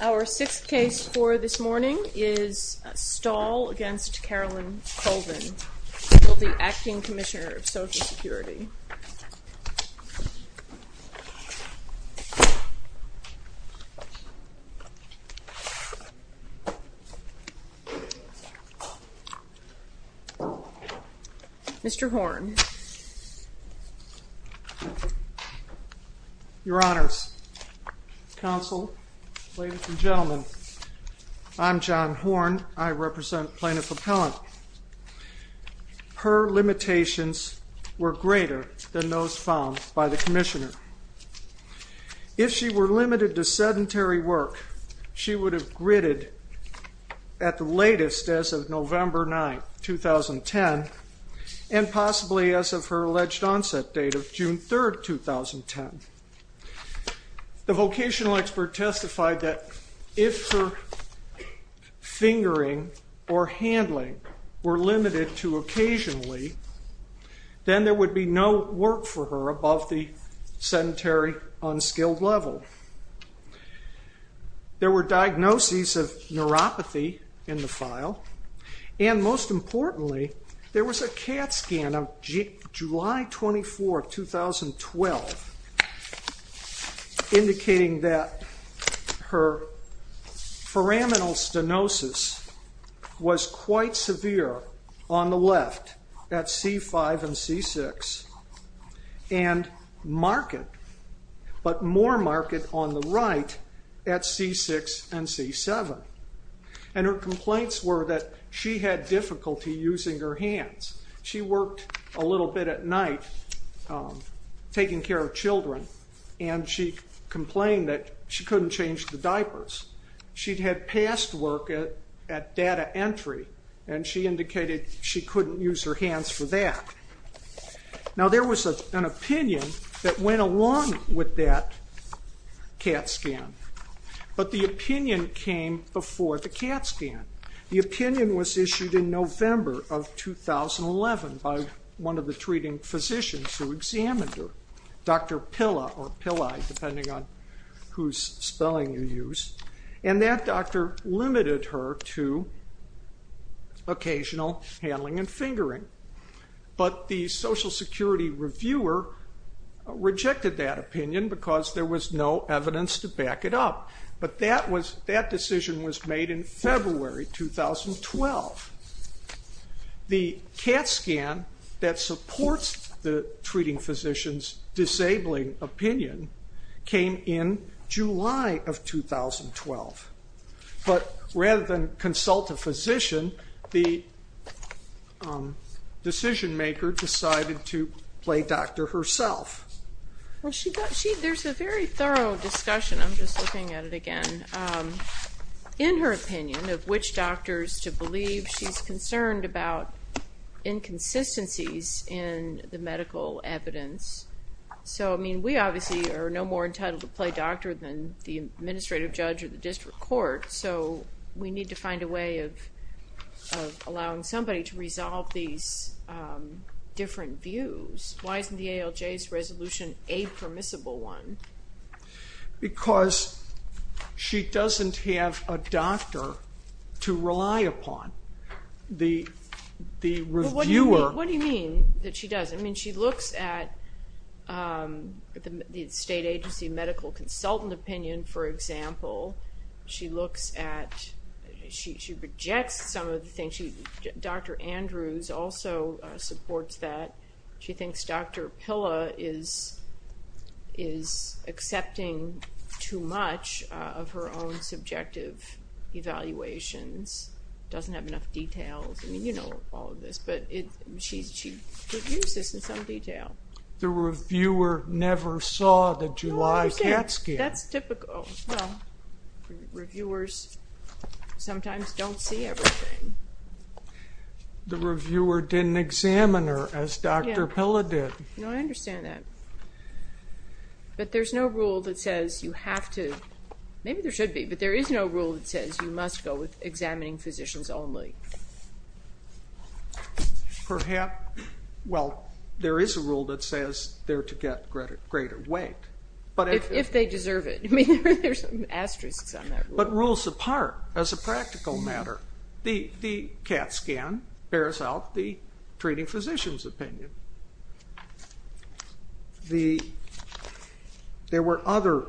Our sixth case for this morning is Stahl v. Carolyn Colvin, Deputy Acting Commissioner of Social Security. Mr. Horn. Your Honors, Counsel, ladies and gentlemen, I'm John Horn. I represent Plaintiff Appellant. Her limitations were greater than those found by the Commissioner. If she were limited to sedentary work, she would have gritted at the latest as of November 9, 2010, and possibly as of her alleged onset date of June 3, 2010. The vocational expert testified that if her fingering or handling were limited to occasionally, then there would be no work for her above the sedentary, unskilled level. There were diagnoses of neuropathy in the file, and most importantly, there was a CAT scan of July 24, 2012, indicating that her foraminal stenosis was quite severe on the left, at C5 and C6, and marked, but more marked on the right at C6 and C7. And her complaints were that she had difficulty using her hands. She worked a little bit at night taking care of children, and she complained that she couldn't change the diapers. She'd had past work at data entry, and she indicated she couldn't use her hands for that. Now, there was an opinion that went along with that CAT scan, but the opinion came before the CAT scan. The opinion was issued in November of 2011 by one of the treating physicians who examined her, Dr. Pilla, depending on whose spelling you use, and that doctor limited her to occasional handling and fingering. But the Social Security reviewer rejected that opinion because there was no evidence to back it up. But that decision was made in February 2012. The CAT scan that supports the treating physician's disabling opinion came in July of 2012. But rather than consult a physician, the decision-maker decided to play doctor herself. Well, there's a very thorough discussion. I'm just looking at it again. In her opinion of which doctors to believe, she's concerned about inconsistencies in the medical evidence. So, I mean, we obviously are no more entitled to play doctor than the administrative judge or the district court, so we need to find a way of allowing somebody to resolve these different views. Why isn't the ALJ's resolution a permissible one? Because she doesn't have a doctor to rely upon. The reviewer... What do you mean that she doesn't? I mean, she looks at the state agency medical consultant opinion, for example. She looks at, she rejects some of the things. Dr. Andrews also supports that. She thinks Dr. Pilla is accepting too much of her own subjective evaluations, doesn't have enough details. I mean, you know all of this, but she reviews this in some detail. The reviewer never saw the July CAT scan. That's typical. Reviewers sometimes don't see everything. The reviewer didn't examine her as Dr. Pilla did. No, I understand that. But there's no rule that says you have to, maybe there should be, but there is no rule that says you must go with examining physicians only. Perhaps, well, there is a rule that says they're to get greater weight. If they deserve it. I mean, there's an asterisk on that rule. But rules apart as a practical matter. The CAT scan bears out the treating physician's opinion. There were other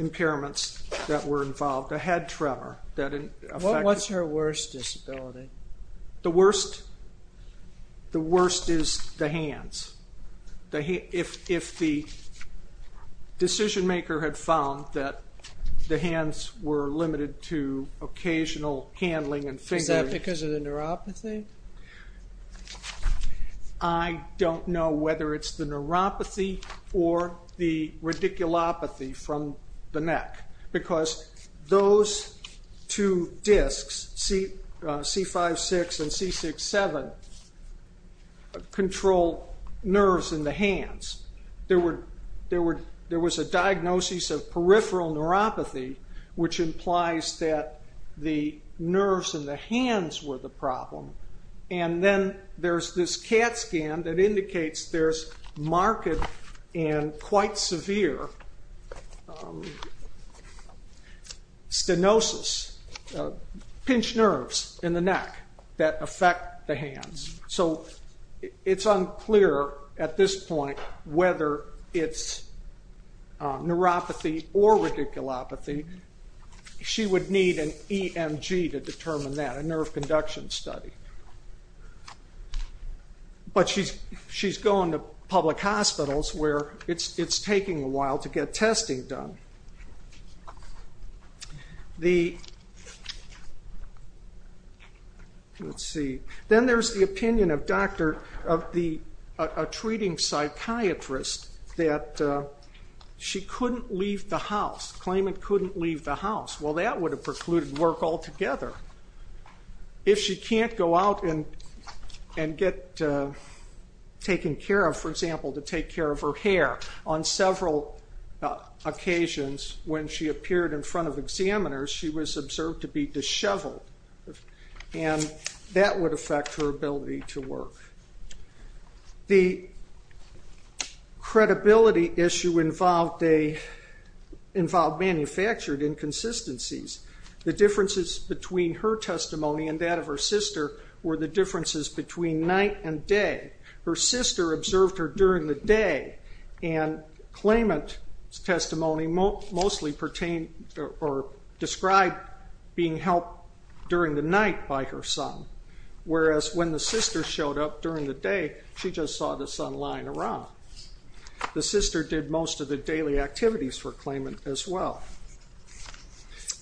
impairments that were involved, a head tremor. What's her worst disability? The worst is the hands. If the decision maker had found that the hands were limited to occasional handling and fingering. Is that because of the neuropathy? I don't know whether it's the neuropathy or the radiculopathy from the neck. Because those two discs, C5-6 and C6-7, control nerves in the hands. There was a diagnosis of peripheral neuropathy, which implies that the nerves in the hands were the problem. And then there's this CAT scan that indicates there's marked and quite severe stenosis, pinched nerves in the neck that affect the hands. So it's unclear at this point whether it's neuropathy or radiculopathy. She would need an EMG to determine that, a nerve conduction study. But she's going to public hospitals where it's taking a while to get testing done. Then there's the opinion of a treating psychiatrist that she couldn't leave the house, claiming couldn't leave the house. Well, that would have precluded work altogether. If she can't go out and get taken care of, for example, to take care of her hair, on several occasions when she appeared in front of examiners, she was observed to be disheveled. And that would affect her ability to work. The credibility issue involved manufactured inconsistencies. The differences between her testimony and that of her sister were the differences between night and day. Her sister observed her during the day, and claimant testimony mostly described being helped during the night by her son. Whereas when the sister showed up during the day, she just saw the son lying around. The sister did most of the daily activities for claimant as well.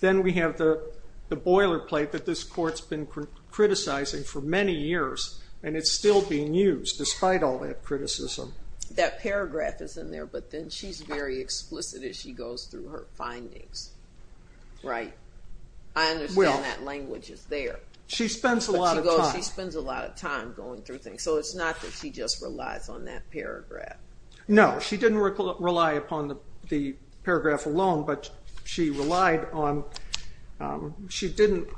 Then we have the boilerplate that this court's been criticizing for many years, and it's still being used despite all that criticism. That paragraph is in there, but then she's very explicit as she goes through her findings, right? I understand that language is there. She spends a lot of time going through things, so it's not that she just relies on that paragraph. No, she didn't rely upon the paragraph alone, but she didn't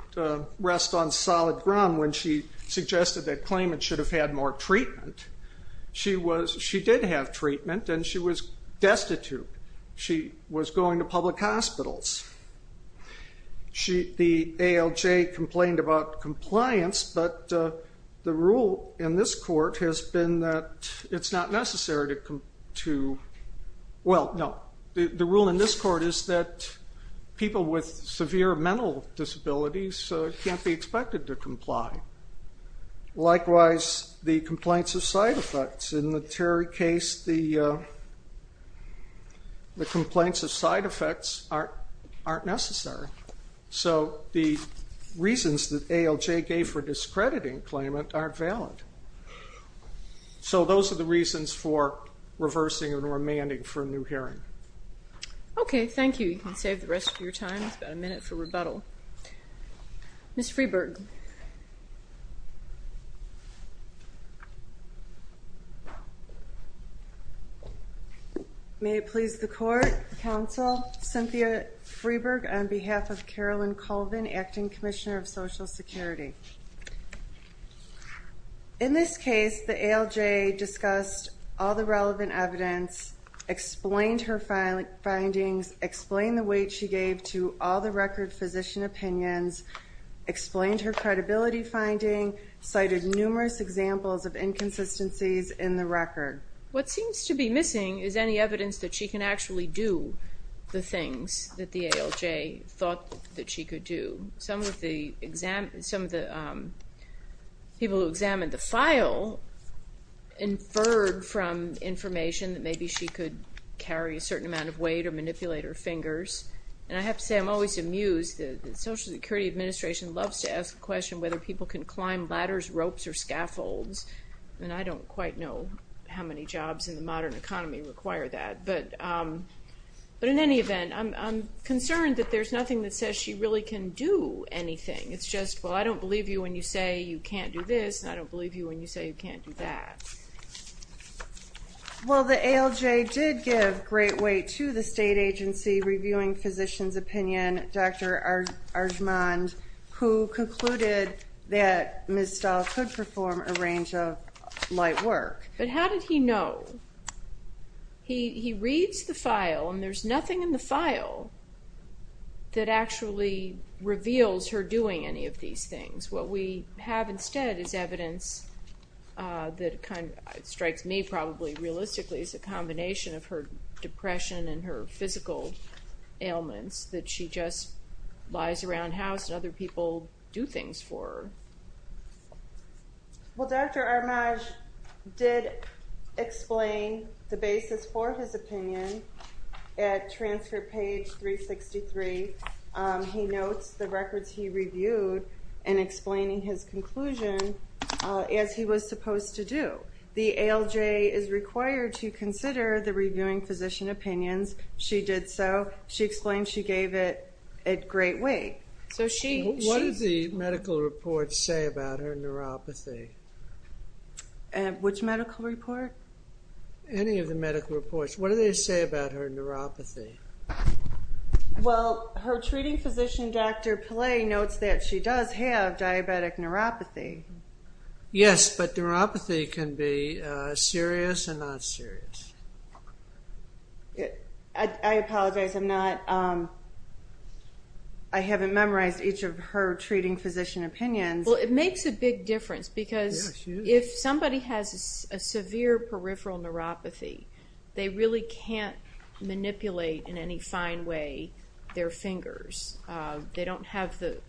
rest on solid ground when she suggested that claimants should have had more treatment. She did have treatment, and she was destitute. She was going to public hospitals. The ALJ complained about compliance, but the rule in this court is that people with severe mental disabilities can't be expected to comply. Likewise, the complaints of side effects. In the Terry case, the complaints of side effects aren't necessary. So the reasons that ALJ gave for discrediting claimant aren't valid. So those are the reasons for reversing and remanding for a new hearing. Okay, thank you. You can save the rest of your time. It's about a minute for rebuttal. Ms. Freeberg. May it please the Court, Counsel Cynthia Freeberg, on behalf of Carolyn Colvin, Acting Commissioner of Social Security. In this case, the ALJ discussed all the relevant evidence, explained her findings, explained the weight she gave to all the record physician opinions, explained her credibility finding, cited numerous examples of inconsistencies in the record. What seems to be missing is any evidence that she can actually do the things that the ALJ thought that she could do. Some of the people who examined the file inferred from information that maybe she could carry a certain amount of weight or manipulate her fingers. And I have to say I'm always amused that the Social Security Administration loves to ask the question whether people can climb ladders, ropes, or scaffolds, and I don't quite know how many jobs in the modern economy require that. But in any event, I'm concerned that there's nothing that says she really can do anything. It's just, well, I don't believe you when you say you can't do this, and I don't believe you when you say you can't do that. Well, the ALJ did give great weight to the state agency reviewing physicians' opinion, Dr. Arjmand, who concluded that Ms. Stahl could perform a range of light work. But how did he know? He reads the file, and there's nothing in the file that actually reveals her doing any of these things. What we have instead is evidence that strikes me probably realistically as a combination of her depression and her physical ailments, that she just lies around house and other people do things for her. Well, Dr. Arjmand did explain the basis for his opinion at transfer page 363. He notes the records he reviewed in explaining his conclusion as he was supposed to do. The ALJ is required to consider the reviewing physician opinions. She did so. She explained she gave it great weight. What do the medical reports say about her neuropathy? Which medical report? Any of the medical reports. What do they say about her neuropathy? Well, her treating physician, Dr. Pillay, notes that she does have diabetic neuropathy. Yes, but neuropathy can be serious and not serious. I apologize. I haven't memorized each of her treating physician opinions. Well, it makes a big difference because if somebody has a severe peripheral neuropathy, they really can't manipulate in any fine way their fingers. They don't have the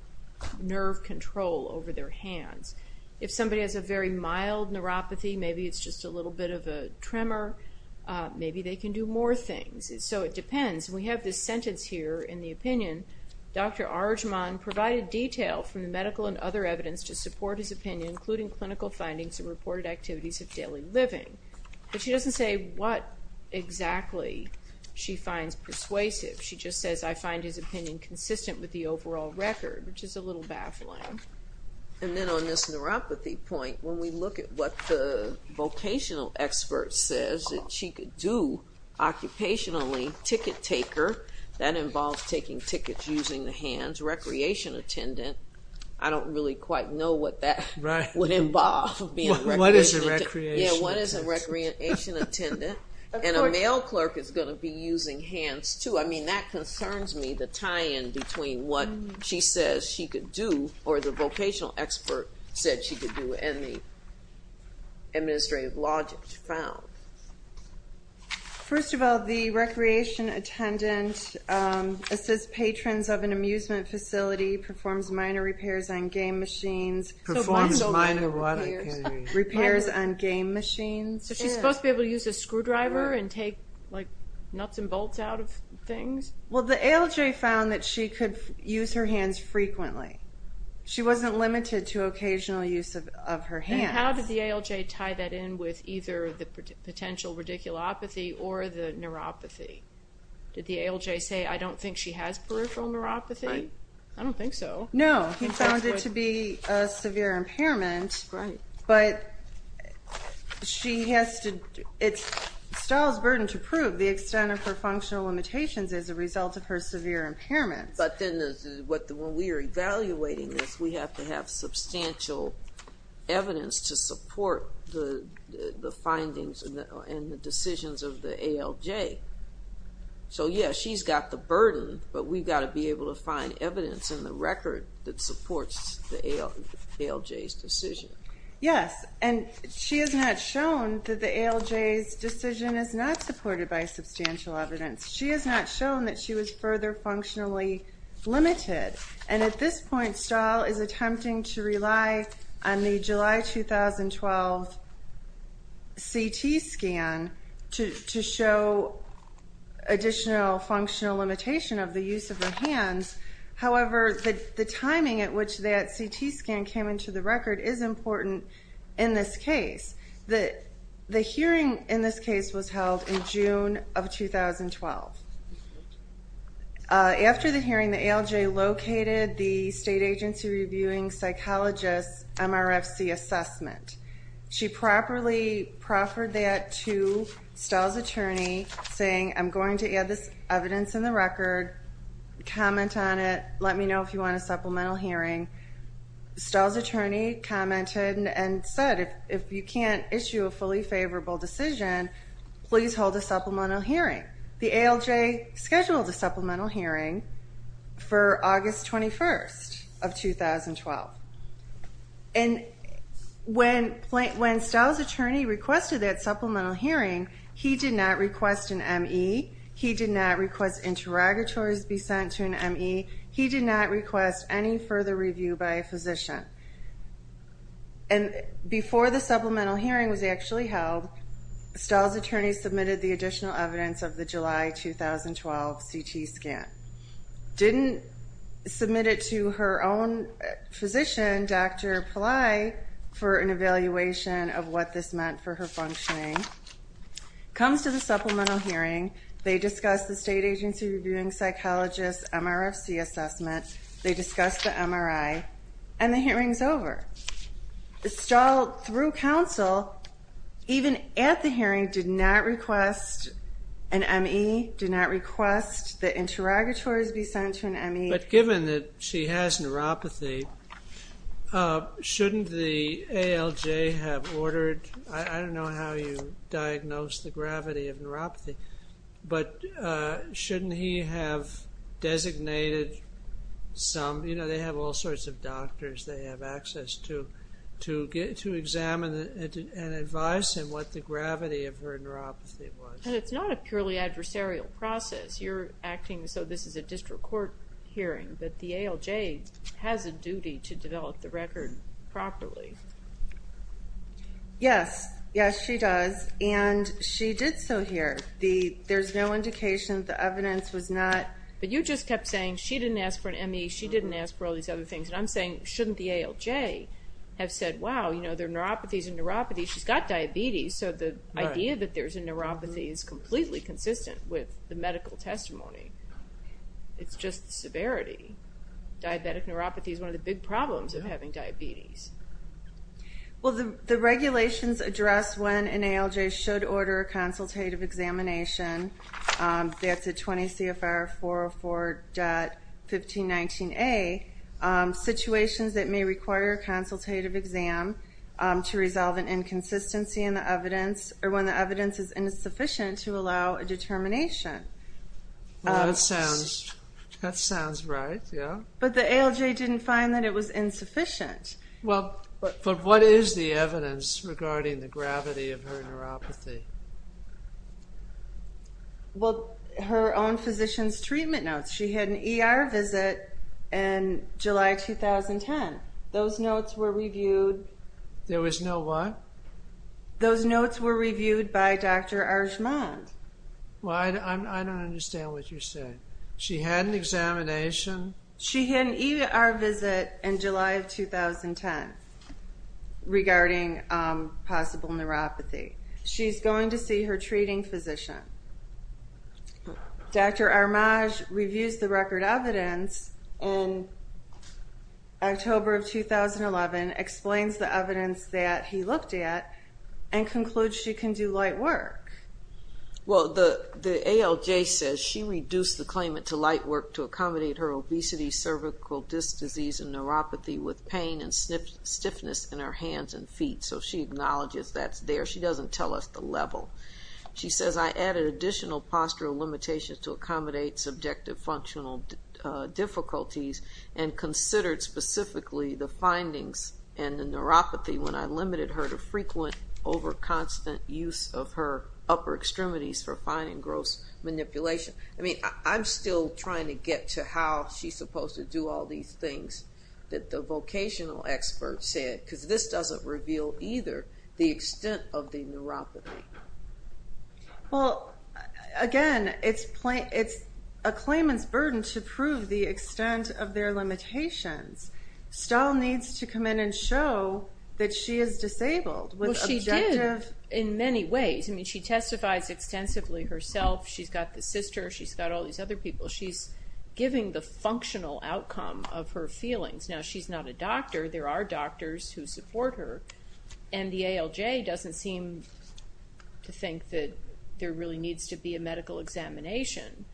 nerve control over their hands. If somebody has a very mild neuropathy, maybe it's just a little bit of a tremor, maybe they can do more things. So it depends. We have this sentence here in the opinion. Dr. Arjmand provided detail from the medical and other evidence to support his opinion, including clinical findings and reported activities of daily living. But she doesn't say what exactly she finds persuasive. She just says, I find his opinion consistent with the overall record, which is a little baffling. And then on this neuropathy point, when we look at what the vocational expert says that she could do occupationally, ticket taker, that involves taking tickets using the hands, recreation attendant, I don't really quite know what that would involve. What is a recreation attendant? Yeah, what is a recreation attendant? And a mail clerk is going to be using hands, too. I mean, that concerns me, the tie-in between what she says she could do or the vocational expert said she could do and the administrative logic found. First of all, the recreation attendant assists patrons of an amusement facility, performs minor repairs on game machines. Performs minor what? Repairs on game machines. So she's supposed to be able to use a screwdriver and take, like, nuts and bolts out of things? Well, the ALJ found that she could use her hands frequently. She wasn't limited to occasional use of her hands. How did the ALJ tie that in with either the potential radiculopathy or the neuropathy? Did the ALJ say, I don't think she has peripheral neuropathy? I don't think so. No, he found it to be a severe impairment, but she has to do it. It's Stahl's burden to prove the extent of her functional limitations as a result of her severe impairment. But then when we are evaluating this, we have to have substantial evidence to support the findings and the decisions of the ALJ. So, yeah, she's got the burden, but we've got to be able to find evidence in the record that supports the ALJ's decision. Yes, and she has not shown that the ALJ's decision is not supported by substantial evidence. She has not shown that she was further functionally limited. And at this point, Stahl is attempting to rely on the July 2012 CT scan to show additional functional limitation of the use of her hands. However, the timing at which that CT scan came into the record is important in this case. The hearing in this case was held in June of 2012. After the hearing, the ALJ located the state agency reviewing psychologist's MRFC assessment. She properly proffered that to Stahl's attorney saying, I'm going to add this evidence in the record, comment on it, let me know if you want a supplemental hearing. Stahl's attorney commented and said, if you can't issue a fully favorable decision, please hold a supplemental hearing. The ALJ scheduled a supplemental hearing for August 21st of 2012. And when Stahl's attorney requested that supplemental hearing, he did not request an M.E., he did not request interrogatories be sent to an M.E., he did not request any further review by a physician. And before the supplemental hearing was actually held, Stahl's attorney submitted the additional evidence of the July 2012 CT scan. Didn't submit it to her own physician, Dr. Pillai, for an evaluation of what this meant for her functioning. Comes to the supplemental hearing, they discuss the state agency reviewing psychologist's MRFC assessment, they discuss the MRI, and the hearing's over. Stahl, through counsel, even at the hearing, did not request an M.E., did not request that interrogatories be sent to an M.E. But given that she has neuropathy, shouldn't the ALJ have ordered, I don't know how you diagnose the gravity of neuropathy, but shouldn't he have designated some, you know, they have all sorts of doctors they have access to, to examine and advise him what the gravity of her neuropathy was. But it's not a purely adversarial process. You're acting as though this is a district court hearing, that the ALJ has a duty to develop the record properly. Yes. Yes, she does. And she did so here. There's no indication, the evidence was not. But you just kept saying she didn't ask for an M.E., she didn't ask for all these other things, and I'm saying shouldn't the ALJ have said, wow, you know, there are neuropathies in neuropathy, she's got diabetes, so the idea that there's a neuropathy is completely consistent with the medical testimony. It's just the severity. Diabetic neuropathy is one of the big problems of having diabetes. Well, the regulations address when an ALJ should order a consultative examination. That's at 20 CFR 404.1519A. Situations that may require a consultative exam to resolve an inconsistency in the evidence, or when the evidence is insufficient to allow a determination. That sounds right, yeah. But the ALJ didn't find that it was insufficient. But what is the evidence regarding the gravity of her neuropathy? Well, her own physician's treatment notes. She had an E.R. visit in July 2010. Those notes were reviewed. There was no what? Those notes were reviewed by Dr. Arjmand. Well, I don't understand what you're saying. She had an examination. She had an E.R. visit in July of 2010 regarding possible neuropathy. She's going to see her treating physician. Dr. Arjmand reviews the record evidence in October of 2011, explains the evidence that he looked at, and concludes she can do light work. Well, the ALJ says she reduced the claimant to light work to accommodate her obesity, cervical disc disease, and neuropathy with pain and stiffness in her hands and feet. So she acknowledges that's there. She doesn't tell us the level. She says, I added additional postural limitations to accommodate subjective functional difficulties and considered specifically the findings and the neuropathy when I limited her to frequent over-constant use of her upper extremities for fine and gross manipulation. I mean, I'm still trying to get to how she's supposed to do all these things that the vocational expert said, because this doesn't reveal either the extent of the neuropathy. Well, again, it's a claimant's burden to prove the extent of their limitations. Stahl needs to come in and show that she is disabled with objective... Well, she did in many ways. I mean, she testifies extensively herself. She's got the sister. She's got all these other people. She's giving the functional outcome of her feelings. Now, she's not a doctor. There are doctors who support her. And the ALJ doesn't seem to think that there really needs to be a medical examination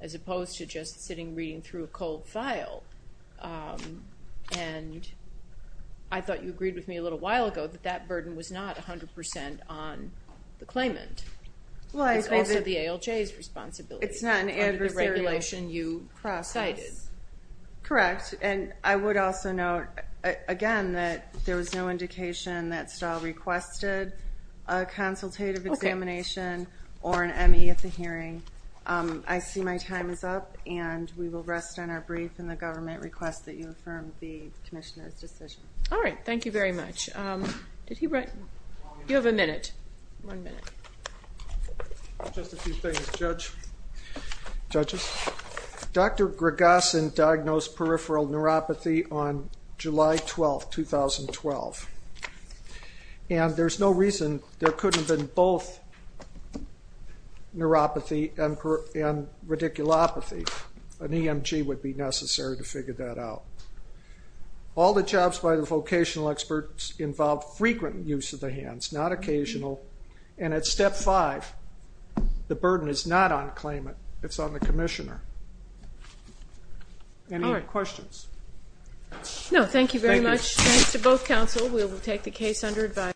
as opposed to just sitting reading through a cold file. And I thought you agreed with me a little while ago that that burden was not 100% on the claimant. It's also the ALJ's responsibility. It's not an adversarial process. Under the regulation you cited. Correct. And I would also note, again, that there was no indication that Stahl requested a consultative examination or an M.E. at the hearing. I see my time is up, and we will rest on our brief in the government request that you affirm the Commissioner's decision. All right. Thank you very much. You have a minute. One minute. Just a few things, judges. Dr. Gragasin diagnosed peripheral neuropathy on July 12, 2012. And there's no reason there couldn't have been both neuropathy and radiculopathy. An EMG would be necessary to figure that out. All the jobs by the vocational experts involved frequent use of the hands, not occasional, and at Step 5, the burden is not on the claimant. It's on the Commissioner. Any questions? No. Thank you very much. Thanks to both counsel. We will take the case under advisory.